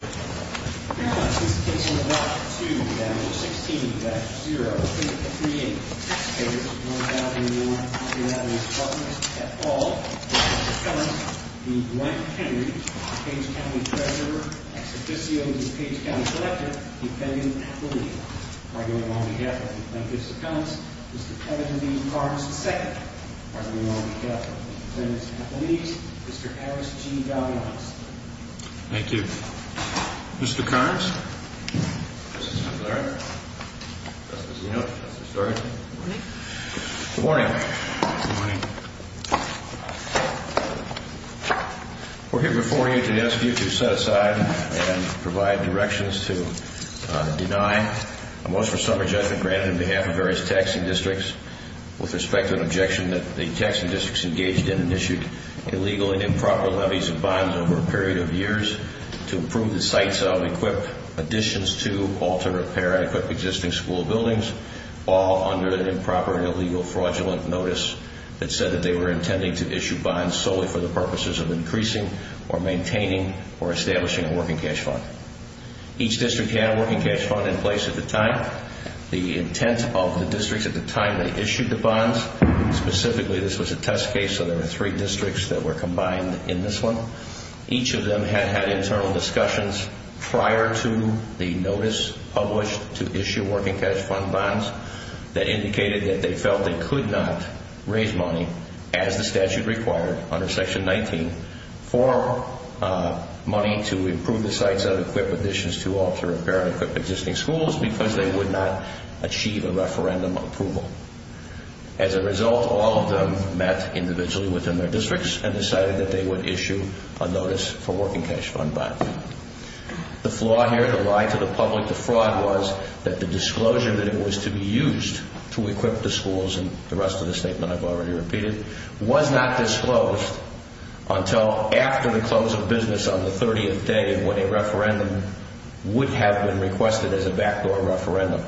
Page County Treasurer, Ex Officio of the Page County Collector, Defendant, Athlete. I go on behalf of the Plaintiff's Accounts, Mr. Kevin V. Barnes II. I go on behalf of the Defendant's Athletes, Mr. Harris G. Valdez. Thank you. Mr. Carnes. Good morning. We're here before you to ask you to set aside and provide directions to deny a motion for summary judgment granted on behalf of various taxing districts with respect to an objection that the taxing districts engaged in and issued illegal and improper levies of bonds over a period of years to improve the sites of, equip additions to, alter, repair, and equip existing school buildings all under an improper and illegal fraudulent notice that said that they were intending to issue bonds solely for the purposes of increasing or maintaining or establishing a working cash fund. Each district had a working cash fund in place at the time. The intent of the districts at the time that issued the bonds, specifically this was a test case, so there were three districts that were combined in this one. Each of them had had internal discussions prior to the notice published to issue working cash fund bonds that indicated that they felt they could not raise money as the statute required under Section 19 for money to improve the sites of, equip additions to, alter, repair, and equip existing schools because they would not achieve a referendum approval. As a result, all of them met individually within their districts and decided that they would issue a notice for working cash fund bonds. The flaw here, the lie to the public, the fraud was that the disclosure that it was to be used to equip the schools and the rest of the statement I've already repeated, was not disclosed until after the close of business on the 30th day when a referendum would have been requested as a backdoor referendum.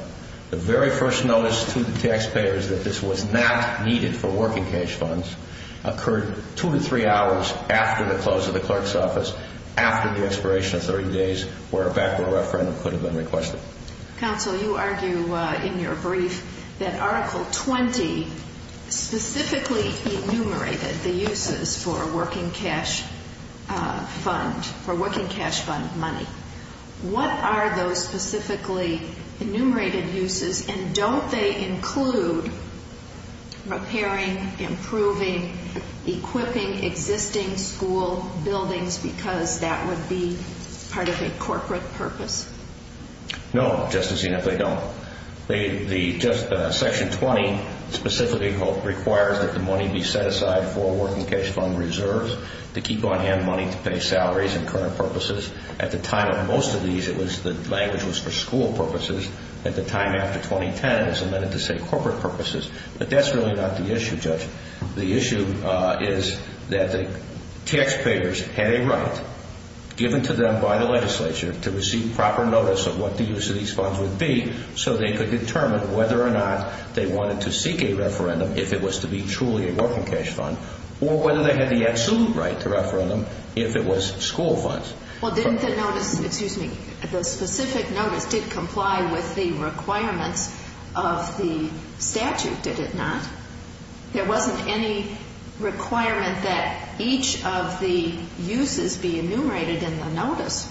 The very first notice to the taxpayers that this was not needed for working cash funds occurred two to three hours after the close of the clerk's office, after the expiration of 30 days where a backdoor referendum could have been requested. Counsel, you argue in your brief that Article 20 specifically enumerated the uses for working cash fund money. What are those specifically enumerated uses and don't they include repairing, improving, equipping existing school buildings because that would be part of a corporate purpose? No, Justice Enum, they don't. Section 20 specifically requires that the money be set aside for working cash fund reserves to keep on hand money to pay salaries and current purposes. At the time of most of these, the language was for school purposes. At the time after 2010, it was amended to say corporate purposes. But that's really not the issue, Judge. The issue is that the taxpayers had a right given to them by the legislature to receive proper notice of what the use of these funds would be so they could determine whether or not they wanted to seek a referendum if it was to be truly a working cash fund or whether they had the absolute right to referendum if it was school funds. Well, didn't the notice, excuse me, the specific notice did comply with the requirements of the statute, did it not? There wasn't any requirement that each of the uses be enumerated in the notice.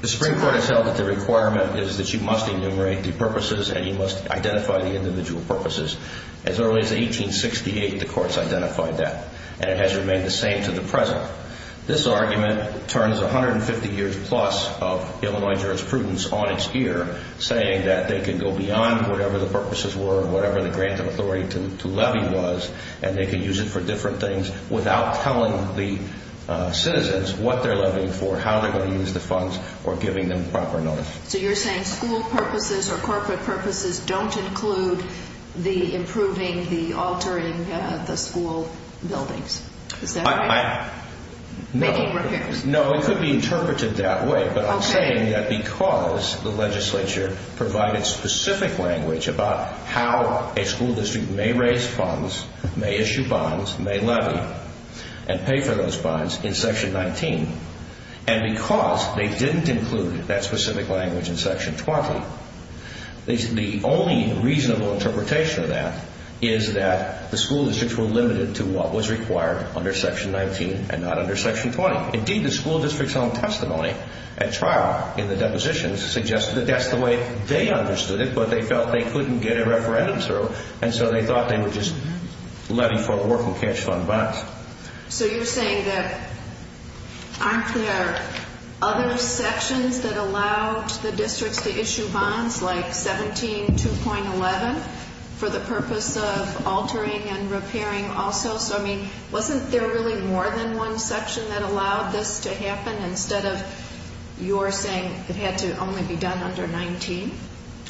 The Supreme Court has held that the requirement is that you must enumerate the purposes and you must identify the individual purposes. As early as 1868, the courts identified that and it has remained the same to the present. This argument turns 150 years plus of Illinois jurisprudence on its ear saying that they could go beyond whatever the purposes were, whatever the grant of authority to levy was, and they could use it for different things without telling the citizens what they're levying for, how they're going to use the funds, or giving them proper notice. So you're saying school purposes or corporate purposes don't include the improving, the altering the school buildings, is that right? Making repairs? No, it could be interpreted that way. But I'm saying that because the legislature provided specific language about how a school district may raise funds, may issue bonds, may levy, and pay for those bonds in Section 19, and because they didn't include that specific language in Section 20, the only reasonable interpretation of that is that the school districts were limited to what was required under Section 19 and not under Section 20. Indeed, the school district's own testimony at trial in the depositions suggested that that's the way they understood it, but they felt they couldn't get a referendum through, and so they thought they would just levy for work and cash fund bonds. So you're saying that aren't there other sections that allowed the districts to issue bonds, like 17.2.11, for the purpose of altering and repairing also? I mean, wasn't there really more than one section that allowed this to happen instead of you're saying it had to only be done under 19?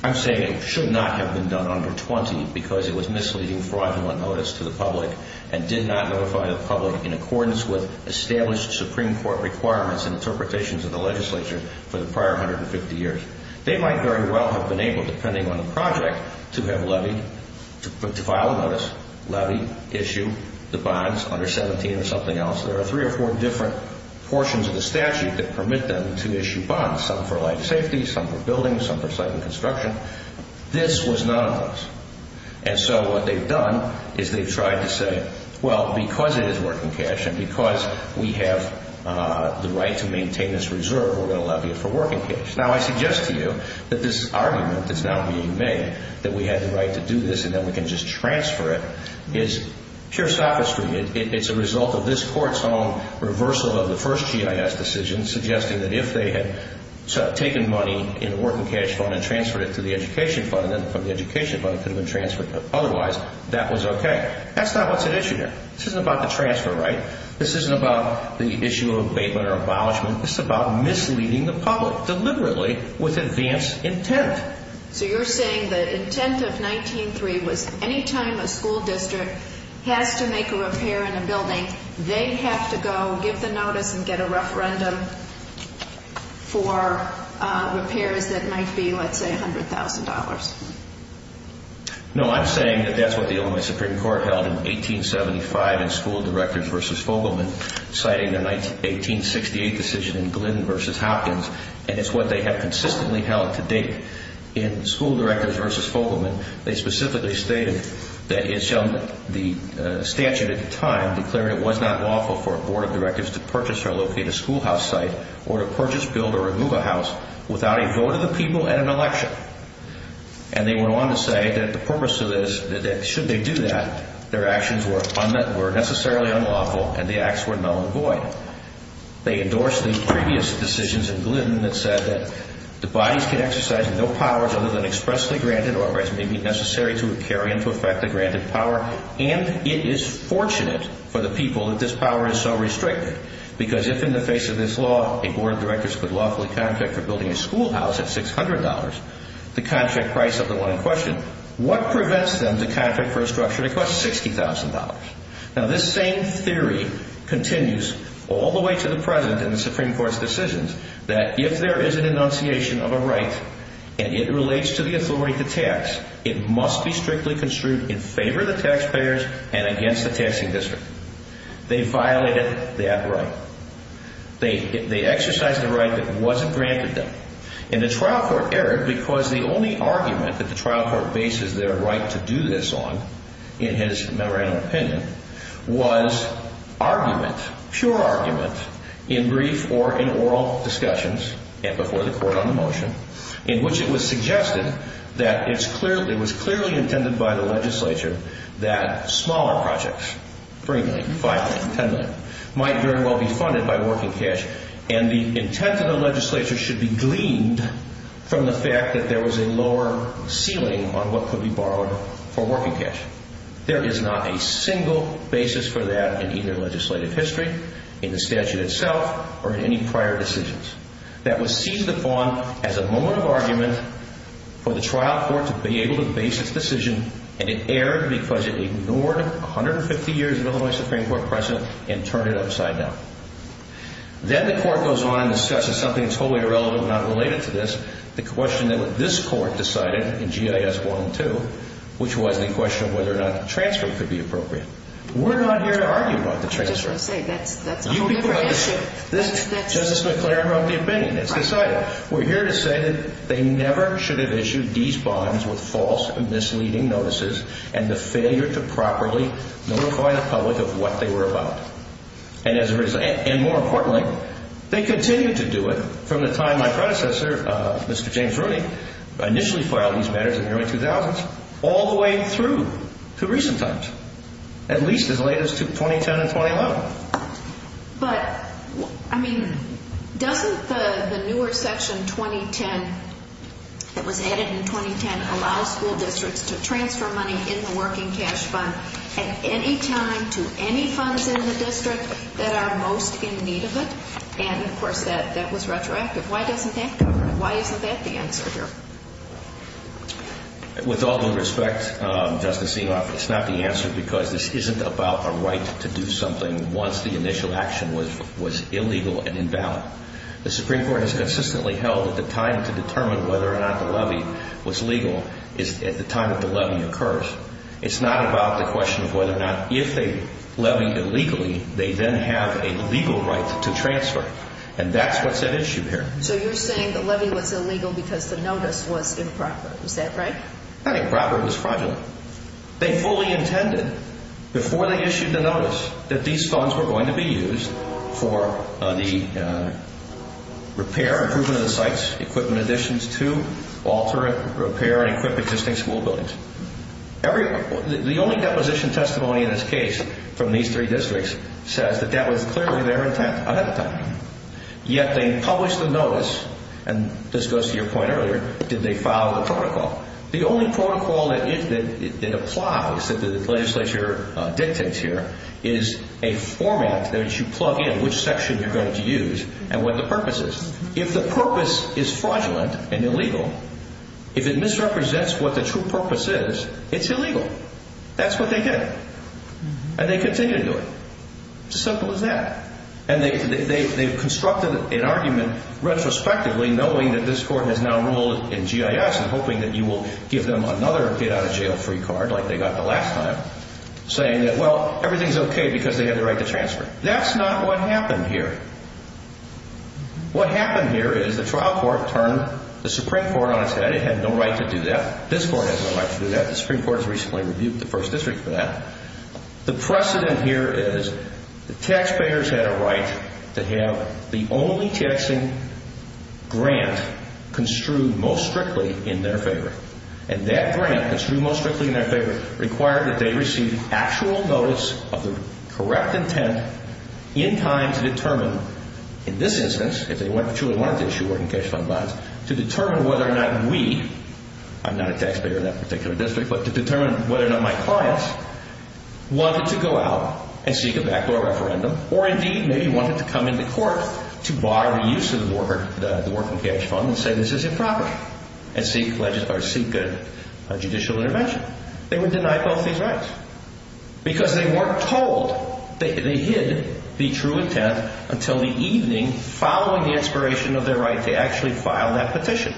I'm saying it should not have been done under 20 because it was misleading fraudulent notice to the public and did not notify the public in accordance with established Supreme Court requirements and interpretations of the legislature for the prior 150 years. They might very well have been able, depending on the project, to have levied, to file a notice, levy, issue the bonds under 17 or something else. There are three or four different portions of the statute that permit them to issue bonds, some for life safety, some for buildings, some for site and construction. This was none of those. And so what they've done is they've tried to say, well, because it is work and cash and because we have the right to maintain this reserve, we're going to levy it for work and cash. Now, I suggest to you that this argument that's now being made, that we have the right to do this and then we can just transfer it, is pure sophistry. It's a result of this Court's own reversal of the first GIS decision, suggesting that if they had taken money in the work and cash fund and transferred it to the education fund and then from the education fund it could have been transferred otherwise, that was okay. That's not what's at issue here. This isn't about the transfer, right? This isn't about the issue of abatement or abolishment. It's about misleading the public deliberately with advanced intent. So you're saying the intent of 19-3 was any time a school district has to make a repair in a building, they have to go give the notice and get a referendum for repairs that might be, let's say, $100,000. No, I'm saying that that's what the Illinois Supreme Court held in 1875 in School Directors v. Fogelman, citing the 1868 decision in Glynn v. Hopkins, and it's what they have consistently held to date in School Directors v. Fogelman. They specifically stated that the statute at the time declared it was not lawful for a board of directors to purchase or locate a schoolhouse site or to purchase, build, or remove a house without a vote of the people and an election. And they went on to say that the purpose of this, that should they do that, their actions were necessarily unlawful and the acts were null and void. They endorsed the previous decisions in Glynn that said that the bodies could exercise no powers other than expressly granted or as may be necessary to carry into effect the granted power, and it is fortunate for the people that this power is so restricted because if in the face of this law a board of directors could lawfully contract for building a schoolhouse at $600, the contract price of the one in question, what prevents them to contract for a structure that costs $60,000? Now this same theory continues all the way to the present in the Supreme Court's decisions that if there is an enunciation of a right and it relates to the authority to tax, it must be strictly construed in favor of the taxpayers and against the taxing district. They violated that right. They exercised a right that wasn't granted them. And the trial court erred because the only argument that the trial court bases their right to do this on, in his memorandum opinion, was argument, pure argument, in brief or in oral discussions and before the court on the motion, in which it was suggested that it was clearly intended by the legislature that smaller projects, $3 million, $5 million, $10 million, might very well be funded by working cash and the intent of the legislature should be gleaned from the fact that there was a lower ceiling on what could be borrowed for working cash. There is not a single basis for that in either legislative history, in the statute itself, or in any prior decisions. That was seized upon as a moment of argument for the trial court to be able to base its decision and it erred because it ignored 150 years of Illinois Supreme Court precedent and turned it upside down. Then the court goes on and discusses something totally irrelevant, not related to this, the question that this court decided in GIS 1 and 2, which was the question of whether or not the transfer could be appropriate. We're not here to argue about the transfer. I was just going to say, that's a whole different issue. Justice McClaren wrote the opinion. It's decided. We're here to say that they never should have issued these bonds with false and misleading notices and the failure to properly notify the public of what they were about. And more importantly, they continued to do it from the time my predecessor, Mr. James Rooney, initially filed these matters in the early 2000s all the way through to recent times, at least as late as 2010 and 2011. But, I mean, doesn't the newer section 2010 that was added in 2010 allow school districts to transfer money in the working cash fund at any time to any funds in the district that are most in need of it? And, of course, that was retroactive. Why doesn't that cover it? Why isn't that the answer here? With all due respect, Justice Engelhoff, it's not the answer because this isn't about a right to do something once the initial action was illegal and invalid. The Supreme Court has consistently held that the time to determine whether or not the levy was legal is at the time that the levy occurs. It's not about the question of whether or not if they levy illegally, they then have a legal right to transfer. And that's what's at issue here. So you're saying the levy was illegal because the notice was improper. Is that right? That improper was fraudulent. They fully intended before they issued the notice that these funds were going to be used for the repair, improvement of the sites, equipment additions to, alter it, repair and equip existing school buildings. The only deposition testimony in this case from these three districts says that that was clearly their intent ahead of time. Yet they published the notice, and this goes to your point earlier, did they follow the protocol? The only protocol that it applies, that the legislature dictates here, is a format that you plug in which section you're going to use and what the purpose is. If the purpose is fraudulent and illegal, if it misrepresents what the true purpose is, it's illegal. That's what they did. And they continue to do it. It's as simple as that. And they constructed an argument retrospectively knowing that this court has now ruled in GIS and hoping that you will give them another get-out-of-jail-free card like they got the last time, saying that, well, everything's okay because they have the right to transfer. That's not what happened here. What happened here is the trial court turned the Supreme Court on its head. It had no right to do that. This court has no right to do that. The Supreme Court has recently rebuked the first district for that. The precedent here is the taxpayers had a right to have the only taxing grant construed most strictly in their favor. And that grant, construed most strictly in their favor, required that they receive actual notice of the correct intent in time to determine, in this instance, if they truly wanted to issue working cash fund bonds, to determine whether or not we, I'm not a taxpayer of that particular district, but to determine whether or not my clients wanted to go out and seek a backdoor referendum or, indeed, maybe wanted to come into court to bar the use of the working cash fund and say this is improper and seek judicial intervention. They were denied both these rights because they weren't told. They hid the true intent until the evening following the expiration of their right to actually file that petition.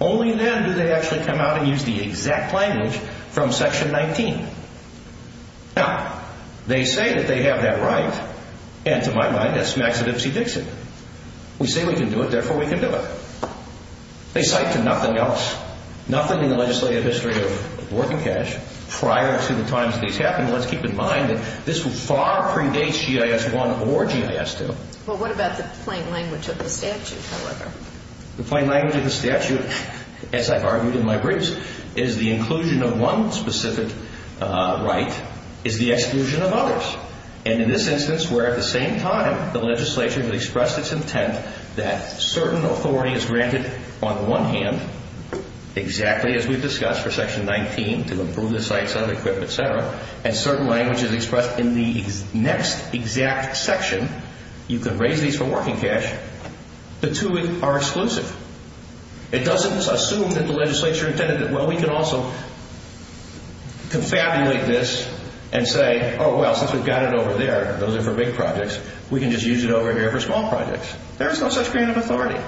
Only then do they actually come out and use the exact language from Section 19. Now, they say that they have that right, and to my mind, that smacks of Ipsy Dixon. We say we can do it, therefore we can do it. They cite to nothing else, nothing in the legislative history of working cash, prior to the times these happened. Let's keep in mind that this will far predate GIS 1 or GIS 2. Well, what about the plain language of the statute, however? The plain language of the statute, as I've argued in my briefs, is the inclusion of one specific right is the exclusion of others. And in this instance, where at the same time the legislature has expressed its intent that certain authority is granted on the one hand, exactly as we've discussed for Section 19, to improve the sites, other equipment, et cetera, and certain language is expressed in the next exact section, you can raise these for working cash, the two are exclusive. It doesn't assume that the legislature intended it. Well, we can also confabulate this and say, oh, well, since we've got it over there, those are for big projects, we can just use it over here for small projects. There is no such grant of authority.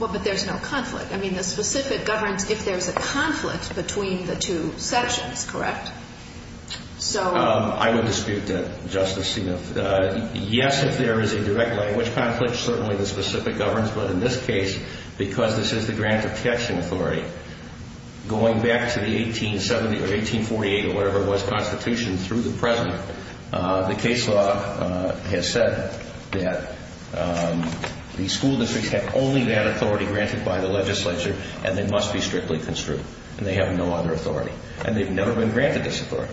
Well, but there's no conflict. I mean, the specific governs if there's a conflict between the two sections, correct? I would dispute that, Justice Stevens. Yes, if there is a direct language conflict, certainly the specific governs. But in this case, because this is the grant of cash in authority, going back to the 1870 or 1848 or whatever it was constitution through the present, the case law has said that the school districts have only that authority granted by the legislature and they must be strictly construed and they have no other authority. And they've never been granted this authority.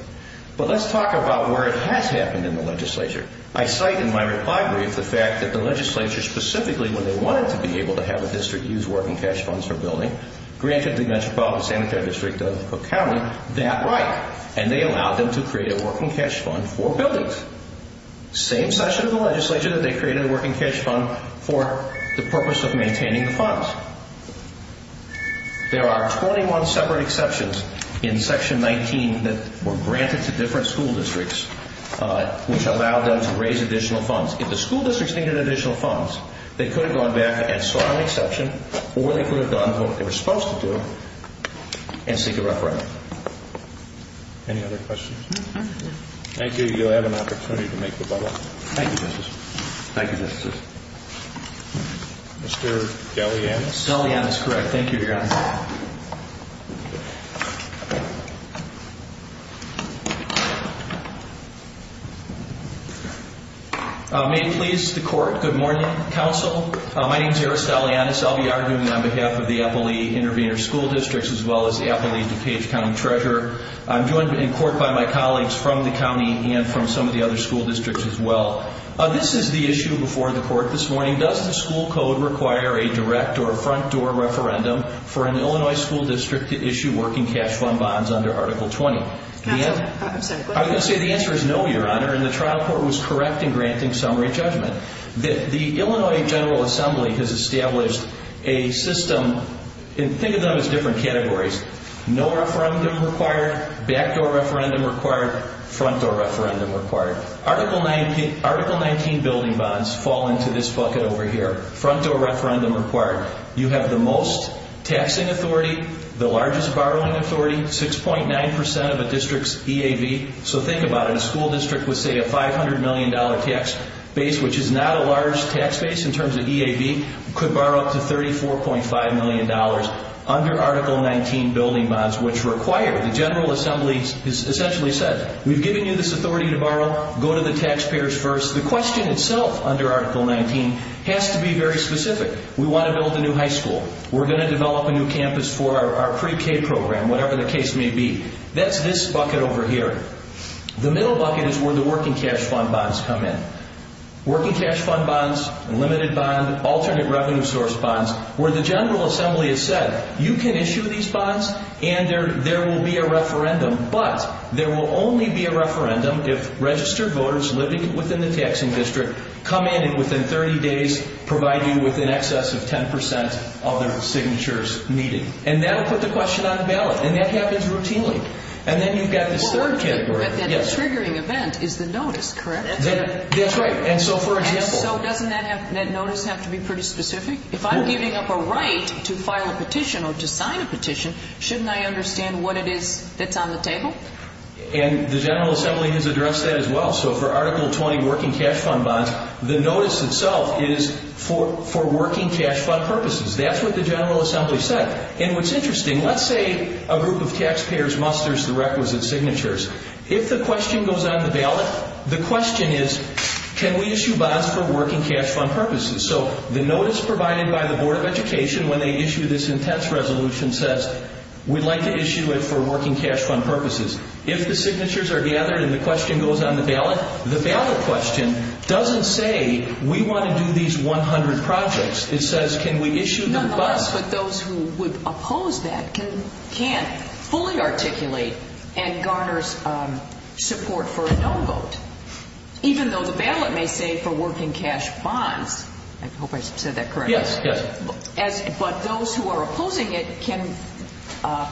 But let's talk about where it has happened in the legislature. I cite in my reply brief the fact that the legislature, specifically when they wanted to be able to have a district use working cash funds for building, granted the Metropolitan Sanitary District of Cook County that right and they allowed them to create a working cash fund for buildings. Same session of the legislature that they created a working cash fund for the purpose of maintaining the funds. There are 21 separate exceptions in Section 19 that were granted to different school districts which allowed them to raise additional funds. If the school districts needed additional funds, they could have gone back and sought an exception or they could have done what they were supposed to do and seek a referendum. Any other questions? No. Thank you. You'll have an opportunity to make the bubble. Thank you, Justice. Thank you, Justice. Mr. Galeanis. Galeanis, correct. Thank you, Your Honor. May it please the Court, good morning, Counsel. My name is Eris Galeanis. I'll be arguing on behalf of the Eppley-Intervenor School Districts as well as the Eppley-DuPage County Treasurer. I'm joined in court by my colleagues from the county and from some of the other school districts as well. This is the issue before the Court this morning. Does the school code require a direct or front-door referendum for an Illinois school district to issue working cash fund bonds under Article 20? I'm sorry, go ahead. I would say the answer is no, Your Honor, and the trial court was correct in granting summary judgment. The Illinois General Assembly has established a system, and think of them as different categories. No referendum required, back-door referendum required, front-door referendum required. Article 19 building bonds fall into this bucket over here, front-door referendum required. You have the most taxing authority, the largest borrowing authority, 6.9% of a district's EAB. So think about it, a school district with, say, a $500 million tax base, which is not a large tax base in terms of EAB, could borrow up to $34.5 million under Article 19 building bonds, which require the General Assembly has essentially said, we've given you this authority to borrow, go to the taxpayers first. The question itself under Article 19 has to be very specific. We want to build a new high school. We're going to develop a new campus for our pre-K program, whatever the case may be. That's this bucket over here. The middle bucket is where the working cash fund bonds come in. Working cash fund bonds, limited bond, alternate revenue source bonds, where the General Assembly has said, you can issue these bonds and there will be a referendum, but there will only be a referendum if registered voters living within the taxing district come in and within 30 days provide you with an excess of 10% of their signatures needed. And that will put the question on the ballot. And that happens routinely. And then you've got this third category. The triggering event is the notice, correct? That's right. And so for example. And so doesn't that notice have to be pretty specific? If I'm giving up a right to file a petition or to sign a petition, shouldn't I understand what it is that's on the table? And the General Assembly has addressed that as well. So for Article 20 working cash fund bonds, the notice itself is for working cash fund purposes. That's what the General Assembly said. And what's interesting, let's say a group of taxpayers musters the requisite signatures. If the question goes on the ballot, the question is, can we issue bonds for working cash fund purposes? So the notice provided by the Board of Education when they issue this intense resolution says, we'd like to issue it for working cash fund purposes. If the signatures are gathered and the question goes on the ballot, the ballot question doesn't say, we want to do these 100 projects. It says, can we issue them bonds? Nonetheless, but those who would oppose that can't fully articulate and garners support for a no vote. Even though the ballot may say for working cash bonds, I hope I said that correctly. Yes, yes. But those who are opposing it can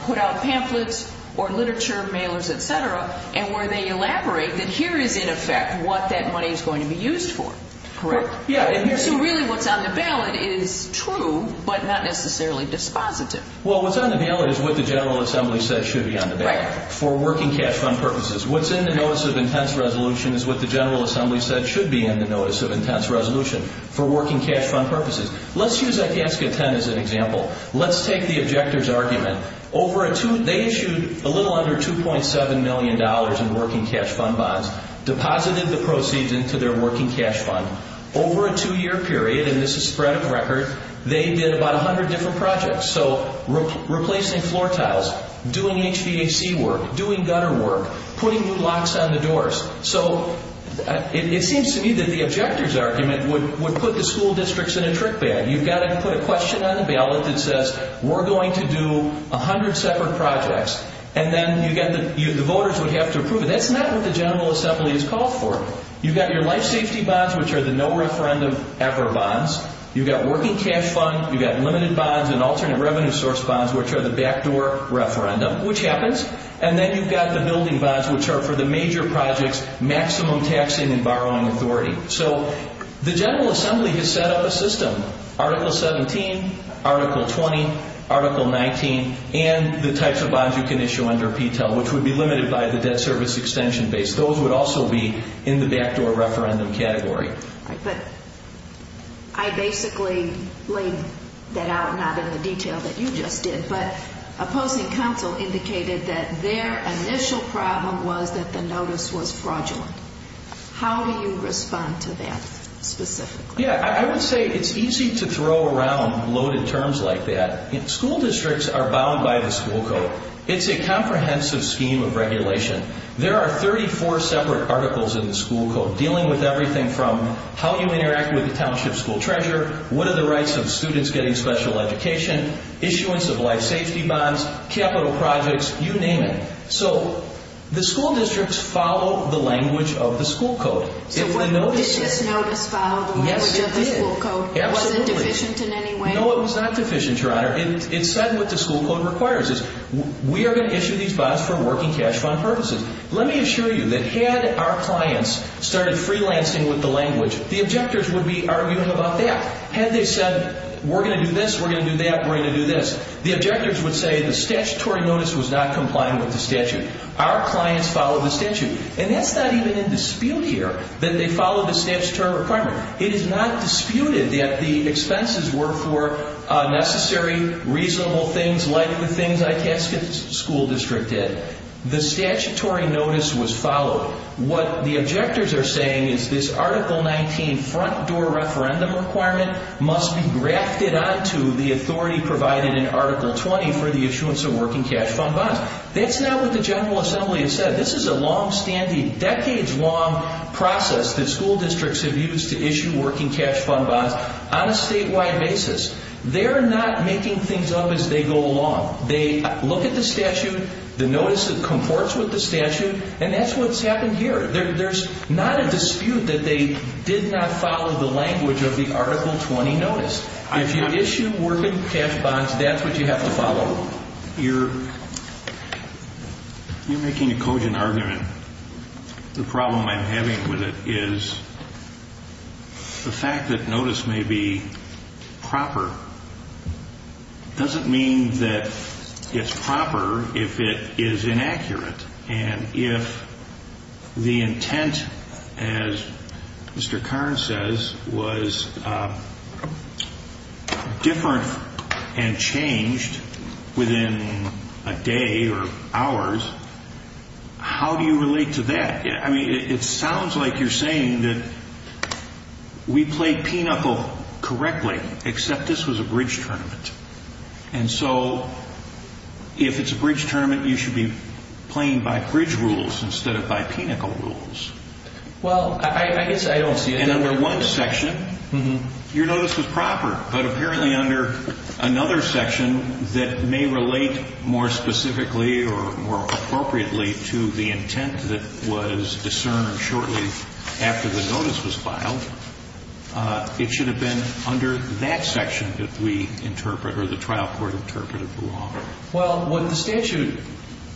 put out pamphlets or literature, mailers, et cetera, and where they elaborate that here is in effect what that money is going to be used for. Correct. Yeah. So really what's on the ballot is true but not necessarily dispositive. Well, what's on the ballot is what the General Assembly says should be on the ballot. Right. For working cash fund purposes. What's in the Notice of Intense Resolution is what the General Assembly said should be in the Notice of Intense Resolution for working cash fund purposes. Let's use Agasca 10 as an example. Let's take the objector's argument. They issued a little under $2.7 million in working cash fund bonds, deposited the proceeds into their working cash fund. Over a two-year period, and this is spread of record, they did about 100 different projects. So replacing floor tiles, doing HVAC work, doing gutter work, putting new locks on the doors. So it seems to me that the objector's argument would put the school districts in a trick bag. You've got to put a question on the ballot that says we're going to do 100 separate projects, and then the voters would have to approve it. That's not what the General Assembly has called for. You've got your life safety bonds, which are the no referendum ever bonds. You've got working cash fund, you've got limited bonds, and alternate revenue source bonds, which are the backdoor referendum, which happens. And then you've got the building bonds, which are for the major projects, maximum taxing and borrowing authority. So the General Assembly has set up a system, Article 17, Article 20, Article 19, and the types of bonds you can issue under PTEL, which would be limited by the debt service extension base. Those would also be in the backdoor referendum category. All right, but I basically laid that out, not in the detail that you just did, but opposing counsel indicated that their initial problem was that the notice was fraudulent. How do you respond to that specifically? Yeah, I would say it's easy to throw around loaded terms like that. School districts are bound by the school code. It's a comprehensive scheme of regulation. There are 34 separate articles in the school code dealing with everything from how you interact with the township school treasurer, what are the rights of students getting special education, issuance of life safety bonds, capital projects, you name it. So the school districts follow the language of the school code. Did this notice follow the language of the school code? Yes, it did. Was it deficient in any way? No, it was not deficient, Your Honor. It said what the school code requires is we are going to issue these bonds for working cash fund purposes. Let me assure you that had our clients started freelancing with the language, the objectors would be arguing about that. Had they said we're going to do this, we're going to do that, we're going to do this, the objectors would say the statutory notice was not complying with the statute. Our clients followed the statute. And that's not even in dispute here that they followed the statutory requirement. It is not disputed that the expenses were for necessary, reasonable things like the things Itasca School District did. The statutory notice was followed. What the objectors are saying is this Article 19 front door referendum requirement must be grafted onto the authority provided in Article 20 for the issuance of working cash fund bonds. That's not what the General Assembly has said. This is a long-standing, decades-long process that school districts have used to issue working cash fund bonds on a statewide basis. They're not making things up as they go along. They look at the statute, the notice that comports with the statute, and that's what's happened here. There's not a dispute that they did not follow the language of the Article 20 notice. If you issue working cash bonds, that's what you have to follow. You're making a cogent argument. The problem I'm having with it is the fact that notice may be proper doesn't mean that it's proper if it is inaccurate. If the intent, as Mr. Karn says, was different and changed within a day or hours, how do you relate to that? It sounds like you're saying that we played Pinochle correctly, except this was a bridge tournament. And so if it's a bridge tournament, you should be playing by bridge rules instead of by Pinochle rules. Well, I guess I don't see it that way. And under one section, your notice was proper. But apparently under another section that may relate more specifically or more appropriately to the intent that was discerned shortly after the notice was filed, it should have been under that section that we interpret or the trial court interpreted the law. Well, what the statute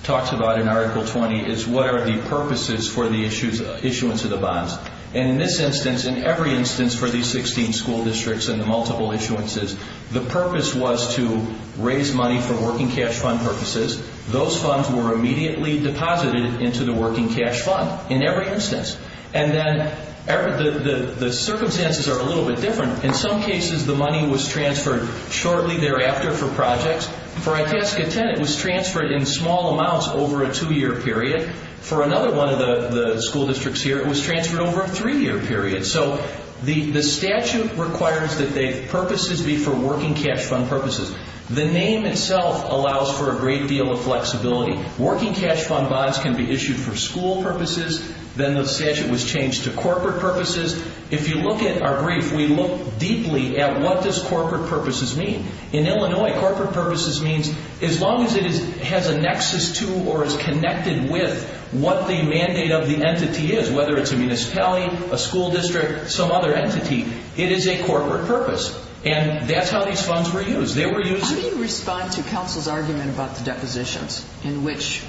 talks about in Article 20 is what are the purposes for the issuance of the bonds. And in this instance, in every instance for these 16 school districts and the multiple issuances, the purpose was to raise money for working cash fund purposes. Those funds were immediately deposited into the working cash fund in every instance. And then the circumstances are a little bit different. In some cases, the money was transferred shortly thereafter for projects. For Itasca 10, it was transferred in small amounts over a two-year period. For another one of the school districts here, it was transferred over a three-year period. So the statute requires that the purposes be for working cash fund purposes. The name itself allows for a great deal of flexibility. Working cash fund bonds can be issued for school purposes. Then the statute was changed to corporate purposes. If you look at our brief, we look deeply at what does corporate purposes mean. In Illinois, corporate purposes means as long as it has a nexus to or is connected with what the mandate of the entity is, whether it's a municipality, a school district, some other entity, it is a corporate purpose. And that's how these funds were used. How do you respond to counsel's argument about the depositions in which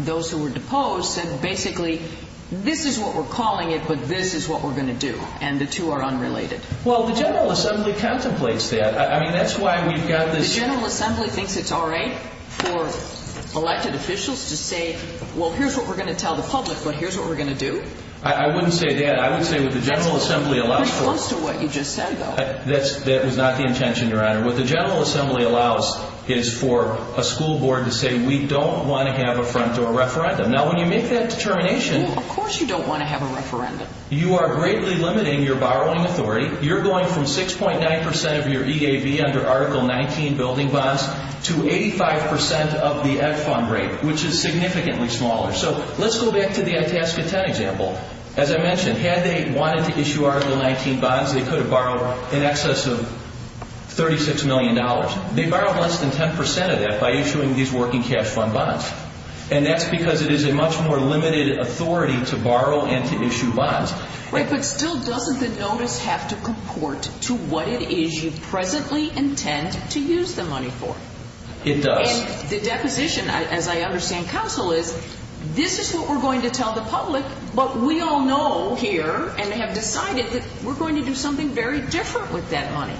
those who were deposed said basically, this is what we're calling it, but this is what we're going to do, and the two are unrelated? Well, the General Assembly contemplates that. I mean, that's why we've got this. The General Assembly thinks it's all right for elected officials to say, well, here's what we're going to tell the public, but here's what we're going to do? I wouldn't say that. I would say what the General Assembly allows for. That's close to what you just said, though. That was not the intention, Your Honor. What the General Assembly allows is for a school board to say, we don't want to have a front-door referendum. Now, when you make that determination. Of course you don't want to have a referendum. You are greatly limiting your borrowing authority. You're going from 6.9% of your EAB under Article 19 building bonds to 85% of the Ed Fund rate, which is significantly smaller. So let's go back to the Itasca 10 example. As I mentioned, had they wanted to issue Article 19 bonds, they could have borrowed in excess of $36 million. They borrowed less than 10% of that by issuing these working cash fund bonds, and that's because it is a much more limited authority to borrow and to issue bonds. Right, but still doesn't the notice have to comport to what it is you presently intend to use the money for? It does. And the deposition, as I understand counsel, is this is what we're going to tell the public, but we all know here and have decided that we're going to do something very different with that money.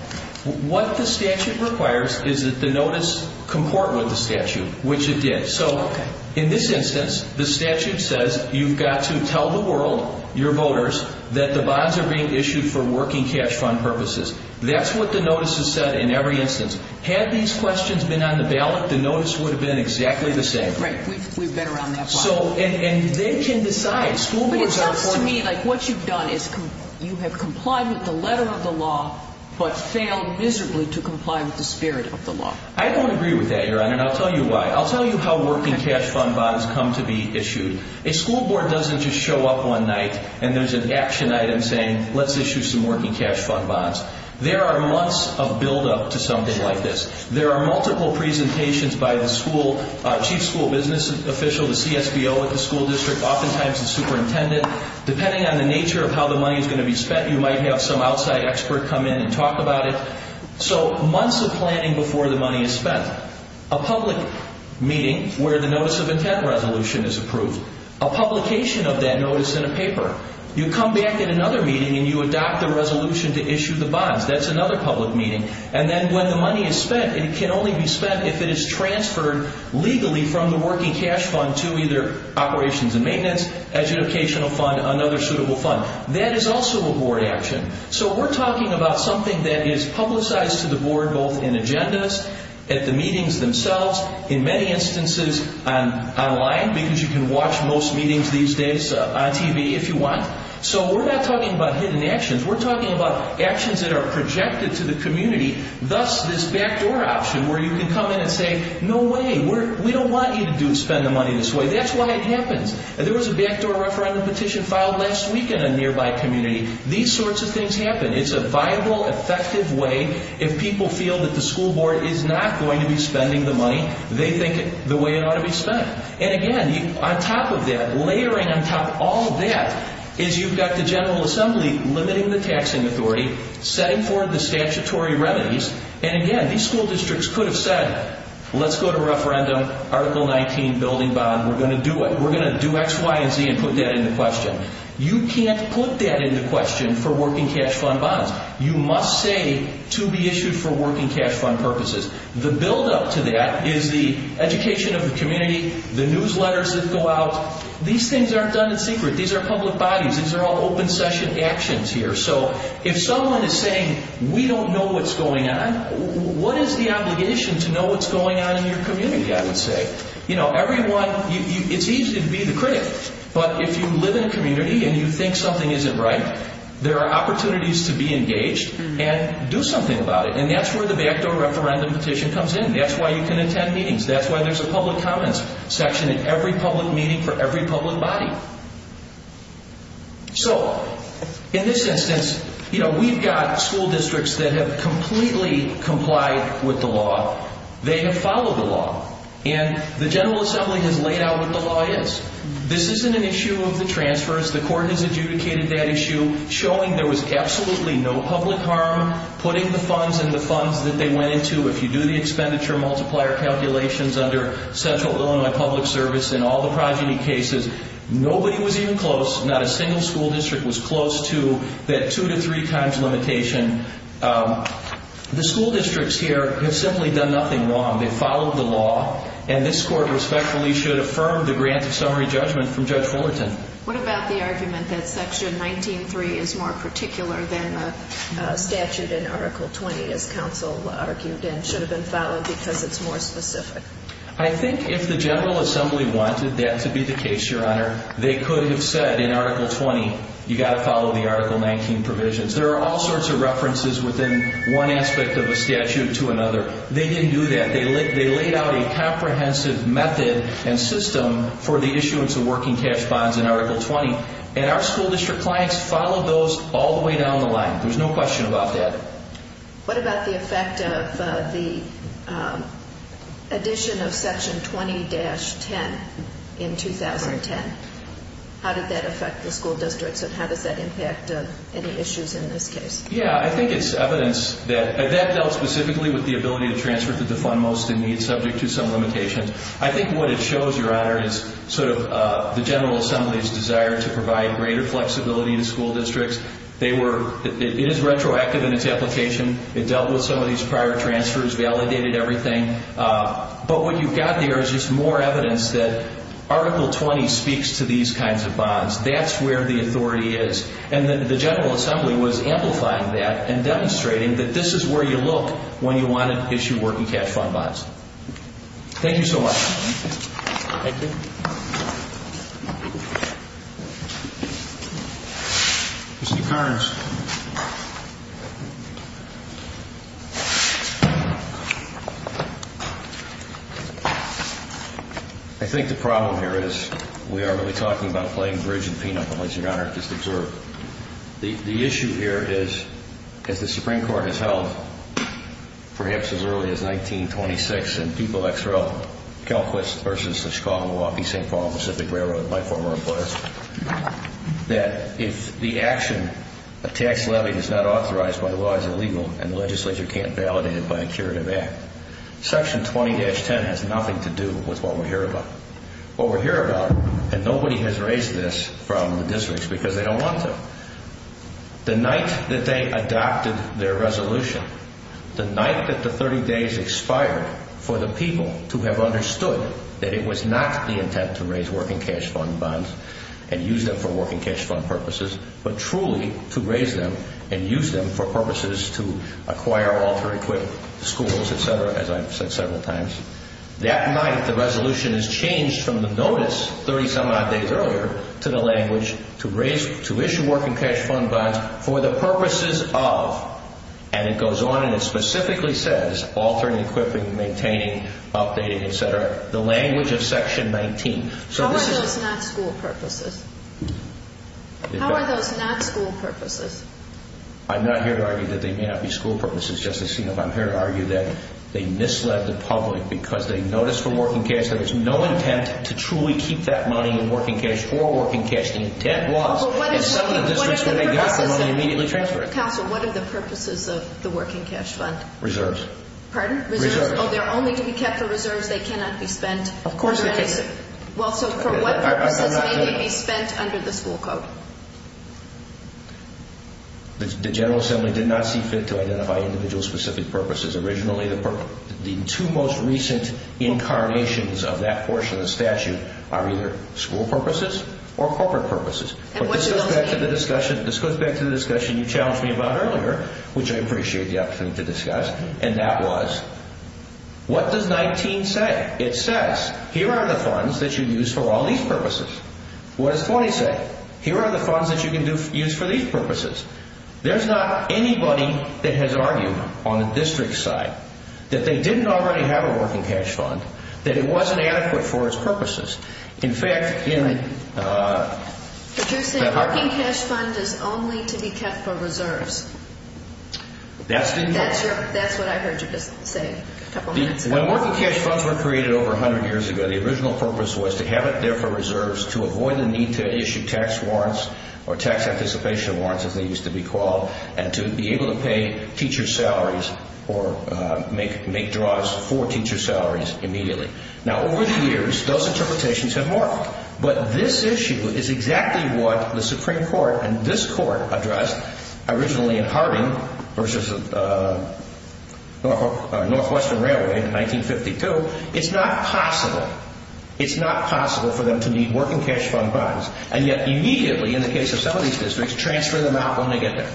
What the statute requires is that the notice comport with the statute, which it did. So in this instance, the statute says you've got to tell the world, your voters, that the bonds are being issued for working cash fund purposes. That's what the notice has said in every instance. Had these questions been on the ballot, the notice would have been exactly the same. Right, we've been around that line. And they can decide. But it sounds to me like what you've done is you have complied with the letter of the law but failed miserably to comply with the spirit of the law. I don't agree with that, Your Honor, and I'll tell you why. I'll tell you how working cash fund bonds come to be issued. A school board doesn't just show up one night and there's an action item saying, let's issue some working cash fund bonds. There are months of buildup to something like this. There are multiple presentations by the school, chief school business official, the CSBO at the school district, oftentimes the superintendent. Depending on the nature of how the money is going to be spent, you might have some outside expert come in and talk about it. So months of planning before the money is spent. A public meeting where the notice of intent resolution is approved. A publication of that notice in a paper. You come back at another meeting and you adopt a resolution to issue the bonds. That's another public meeting. And then when the money is spent, it can only be spent if it is transferred legally from the working cash fund to either operations and maintenance, educational fund, another suitable fund. That is also a board action. So we're talking about something that is publicized to the board both in agendas at the meetings themselves, in many instances online because you can watch most meetings these days on TV if you want. So we're not talking about hidden actions. We're talking about actions that are projected to the community, thus this backdoor option where you can come in and say, no way, we don't want you to spend the money this way. That's why it happens. There was a backdoor referendum petition filed last week in a nearby community. These sorts of things happen. It's a viable, effective way. If people feel that the school board is not going to be spending the money, they think the way it ought to be spent. And again, on top of that, layering on top of all of that, is you've got the General Assembly limiting the taxing authority, setting forth the statutory remedies. And again, these school districts could have said, let's go to referendum, Article 19, building bond. We're going to do it. We're going to do X, Y, and Z and put that into question. You can't put that into question for working cash fund bonds. You must say to be issued for working cash fund purposes. The buildup to that is the education of the community, the newsletters that go out. These things aren't done in secret. These are public bodies. These are all open session actions here. So if someone is saying, we don't know what's going on, what is the obligation to know what's going on in your community, I would say? You know, everyone, it's easy to be the critic. But if you live in a community and you think something isn't right, there are opportunities to be engaged and do something about it. And that's where the backdoor referendum petition comes in. That's why you can attend meetings. That's why there's a public comments section in every public meeting for every public body. So in this instance, you know, we've got school districts that have completely complied with the law. They have followed the law. And the General Assembly has laid out what the law is. This isn't an issue of the transfers. The court has adjudicated that issue, showing there was absolutely no public harm, putting the funds in the funds that they went into. If you do the expenditure multiplier calculations under Central Illinois Public Service and all the progeny cases, nobody was even close, not a single school district was close to that two to three times limitation. The school districts here have simply done nothing wrong. They've followed the law. And this court respectfully should affirm the granted summary judgment from Judge Fullerton. What about the argument that Section 19-3 is more particular than a statute in Article 20, as counsel argued, and should have been followed because it's more specific? I think if the General Assembly wanted that to be the case, Your Honor, they could have said in Article 20, you've got to follow the Article 19 provisions. There are all sorts of references within one aspect of a statute to another. They didn't do that. They laid out a comprehensive method and system for the issuance of working cash bonds in Article 20, and our school district clients followed those all the way down the line. There's no question about that. What about the effect of the addition of Section 20-10 in 2010? How did that affect the school districts, and how does that impact any issues in this case? Yeah, I think it's evidence that that dealt specifically with the ability to transfer to the fund most in need subject to some limitations. I think what it shows, Your Honor, is sort of the General Assembly's desire to provide greater flexibility to school districts. It is retroactive in its application. It dealt with some of these prior transfers, validated everything. But what you've got there is just more evidence that Article 20 speaks to these kinds of bonds. That's where the authority is. And the General Assembly was amplifying that and demonstrating that this is where you look when you want to issue working cash fund bonds. Thank you so much. Thank you. Mr. Carnes. I think the problem here is we are really talking about playing bridge and peanut, as Your Honor just observed. The issue here is, as the Supreme Court has held, perhaps as early as 1926, in Dupal, Calif., versus the Chicago, Milwaukee, St. Paul, and Pacific Railroad, that if the action of tax levying is not authorized by law, it's illegal and the legislature can't validate it by a curative act. Section 20-10 has nothing to do with what we're here about. What we're here about, and nobody has raised this from the districts because they don't want to, the night that they adopted their resolution, the night that the 30 days expired for the people to have understood that it was not the intent to raise working cash fund bonds and use them for working cash fund purposes, but truly to raise them and use them for purposes to acquire, alter, equip schools, et cetera, as I've said several times, that night the resolution is changed from the notice 30-some odd days earlier to the language to issue working cash fund bonds for the purposes of, and it goes on and it specifically says, altering, equipping, maintaining, updating, et cetera, the language of Section 19. How are those not school purposes? How are those not school purposes? I'm not here to argue that they may not be school purposes, Justice Senoff. I'm here to argue that they misled the public because they noticed for working cash that there's no intent to truly keep that money in working cash for working cash. The intent was to sell the districts where they got it and immediately transfer it. Counsel, what are the purposes of the working cash fund? Reserves. Pardon? Reserves. Oh, they're only to be kept for reserves. They cannot be spent. Of course they can't. Well, so for what purposes may they be spent under the school code? The General Assembly did not see fit to identify individual specific purposes. Originally the two most recent incarnations of that portion of the statute are either school purposes or corporate purposes. And what do those mean? This goes back to the discussion you challenged me about earlier, which I appreciate the opportunity to discuss, and that was what does 19 say? It says here are the funds that you use for all these purposes. What does 20 say? Here are the funds that you can use for these purposes. There's not anybody that has argued on the district's side that they didn't already have a working cash fund, that it wasn't adequate for its purposes. Could you say working cash fund is only to be kept for reserves? That's what I heard you just say a couple minutes ago. When working cash funds were created over 100 years ago, the original purpose was to have it there for reserves to avoid the need to issue tax warrants or tax anticipation warrants, as they used to be called, and to be able to pay teacher salaries or make draws for teacher salaries immediately. Now, over the years, those interpretations have morphed, but this issue is exactly what the Supreme Court and this Court addressed originally in Harding v. Northwestern Railway in 1952. It's not possible. It's not possible for them to need working cash fund bonds, and yet immediately, in the case of some of these districts, transfer them out when they get there.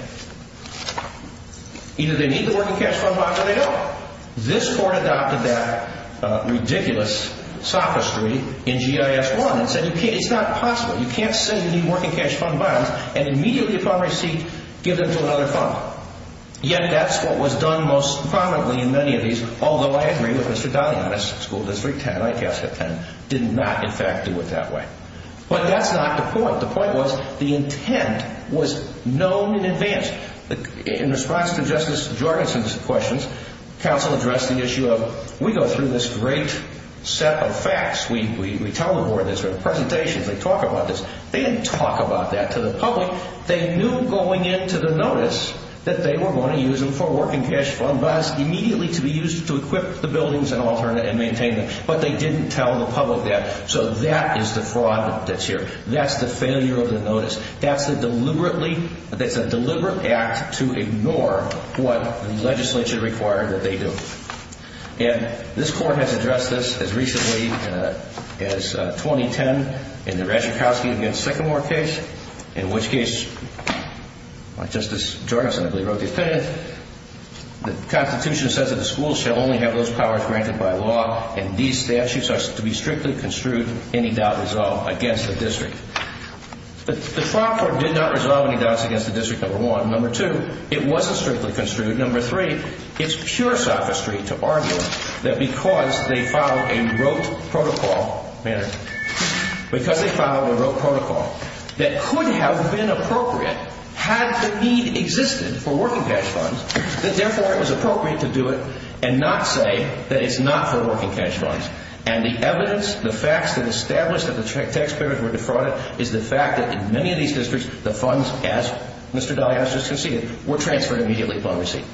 Either they need the working cash fund bond or they don't. This Court adopted that ridiculous sophistry in GIS 1 and said, it's not possible. You can't say you need working cash fund bonds and immediately upon receipt give them to another fund. Yet that's what was done most prominently in many of these, although I agree with Mr. Daly on this, School District 10, ICASF 10, did not, in fact, do it that way. But that's not the point. The point was the intent was known in advance. In response to Justice Jorgensen's questions, counsel addressed the issue of we go through this great set of facts. We tell the Board this. We have presentations. We talk about this. They didn't talk about that to the public. They knew going into the notice that they were going to use them for working cash fund bonds immediately to be used to equip the buildings and maintain them, but they didn't tell the public that. So that is the fraud that's here. That's the failure of the notice. That's a deliberate act to ignore what the legislature required that they do. And this Court has addressed this as recently as 2010 in the Raczykowski v. Sycamore case, in which case Justice Jorgensen, I believe, wrote the opinion, the Constitution says that the schools shall only have those powers granted by law and these statutes are to be strictly construed, any doubt resolved, against the district. The Fraud Court did not resolve any doubts against the district, number one. Number two, it wasn't strictly construed. Number three, it's pure sophistry to argue that because they followed a rote protocol, because they followed a rote protocol that could have been appropriate had the need existed for working cash funds, that therefore it was appropriate to do it and not say that it's not for working cash funds. And the evidence, the facts that establish that the tax payments were defrauded is the fact that in many of these districts, the funds, as Mr. Dallias just conceded, were transferred immediately upon receipt.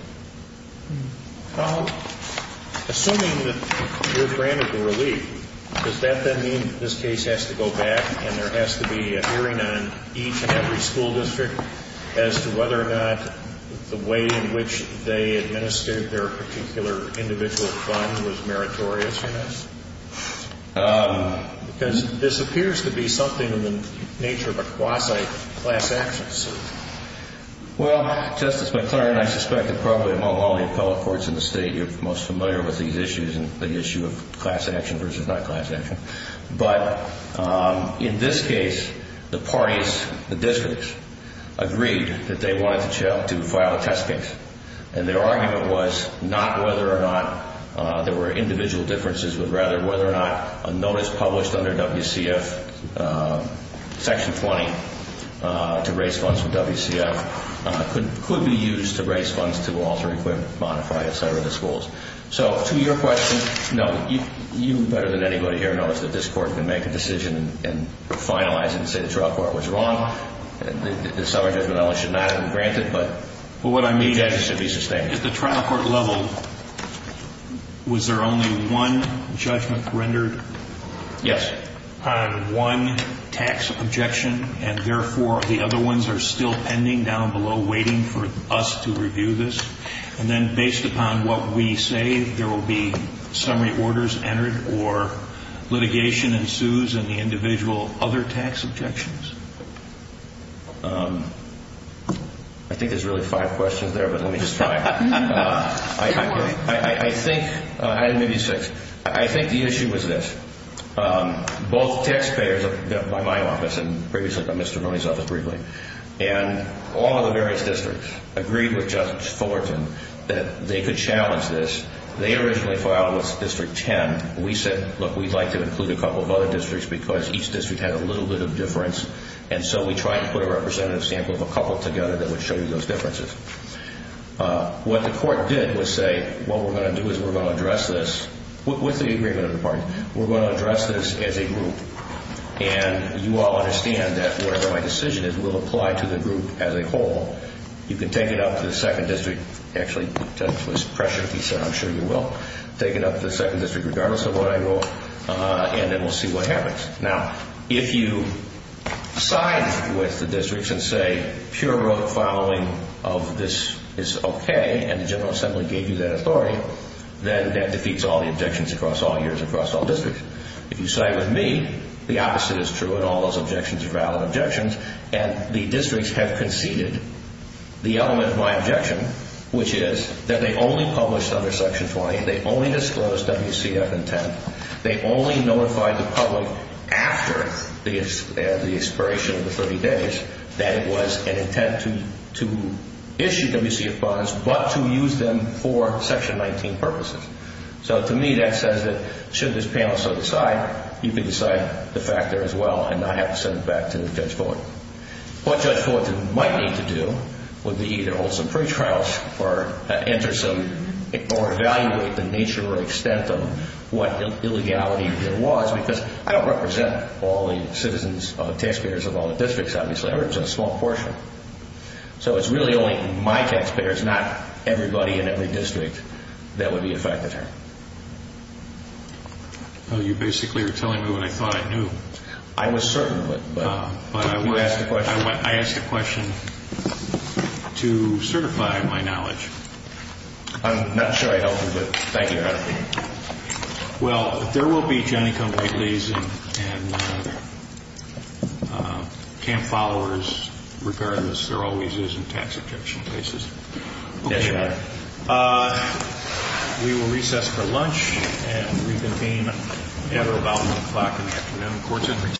Assuming that you're granted the relief, does that then mean that this case has to go back and there has to be a hearing on each and every school district as to whether or not the way in which they administered their particular individual fund was meritorious in this? Because this appears to be something in the nature of a quasi-class action suit. Well, Justice McClernand, I suspect that probably among all the appellate courts in the State, you're most familiar with these issues and the issue of class action versus not class action. But in this case, the parties, the districts, agreed that they wanted to file a test case. And their argument was not whether or not there were individual differences, but rather whether or not a notice published under WCF Section 20 to raise funds from WCF could be used to raise funds to alter, equip, modify, etc., the schools. So to your question, no. You better than anybody here knows that this Court can make a decision and finalize it and say the trial court was wrong. The summary judgment only should not have been granted. But what I mean is that it should be sustained. At the trial court level, was there only one judgment rendered? Yes. On one tax objection, and therefore the other ones are still pending down below, waiting for us to review this? And then based upon what we say, there will be summary orders entered or litigation ensues in the individual other tax objections? I think there's really five questions there, but let me just try. Two more. I think, I had maybe six. I think the issue was this. Both taxpayers, by my office and previously by Mr. Roney's office briefly, and all of the various districts agreed with Judge Fullerton that they could challenge this. They originally filed with District 10. We said, look, we'd like to include a couple of other districts because each district had a little bit of difference and so we tried to put a representative sample of a couple together that would show you those differences. What the court did was say, what we're going to do is we're going to address this with the agreement of the parties. We're going to address this as a group. And you all understand that whatever my decision is, we'll apply to the group as a whole. You can take it up to the second district. Actually, that was pressure. He said, I'm sure you will. Take it up to the second district regardless of what I wrote and then we'll see what happens. Now, if you side with the districts and say pure road following of this is okay and the General Assembly gave you that authority, then that defeats all the objections across all years across all districts. If you side with me, the opposite is true and all those objections are valid objections and the districts have conceded the element of my objection, which is that they only published under Section 20. They only disclosed WCF and 10. They only notified the public after the expiration of the 30 days that it was an intent to issue WCF bonds but to use them for Section 19 purposes. So to me, that says that should this panel so decide, you can decide the fact there as well and not have to send it back to Judge Fortin. What Judge Fortin might need to do would be either hold some free trials or evaluate the nature or extent of what illegality there was because I don't represent all the taxpayers of all the districts, obviously. I represent a small portion. So it's really only my taxpayers, not everybody in every district, that would be affected here. You basically are telling me what I thought I knew. I was certain of it. I ask a question to certify my knowledge. I'm not sure I helped you, but thank you for asking. Well, there will be genicum waitlies and camp followers regardless. There always is in tax objection cases. Yes, Your Honor. We will recess for lunch and reconvene at or about 1 o'clock in the afternoon. Court adjourned.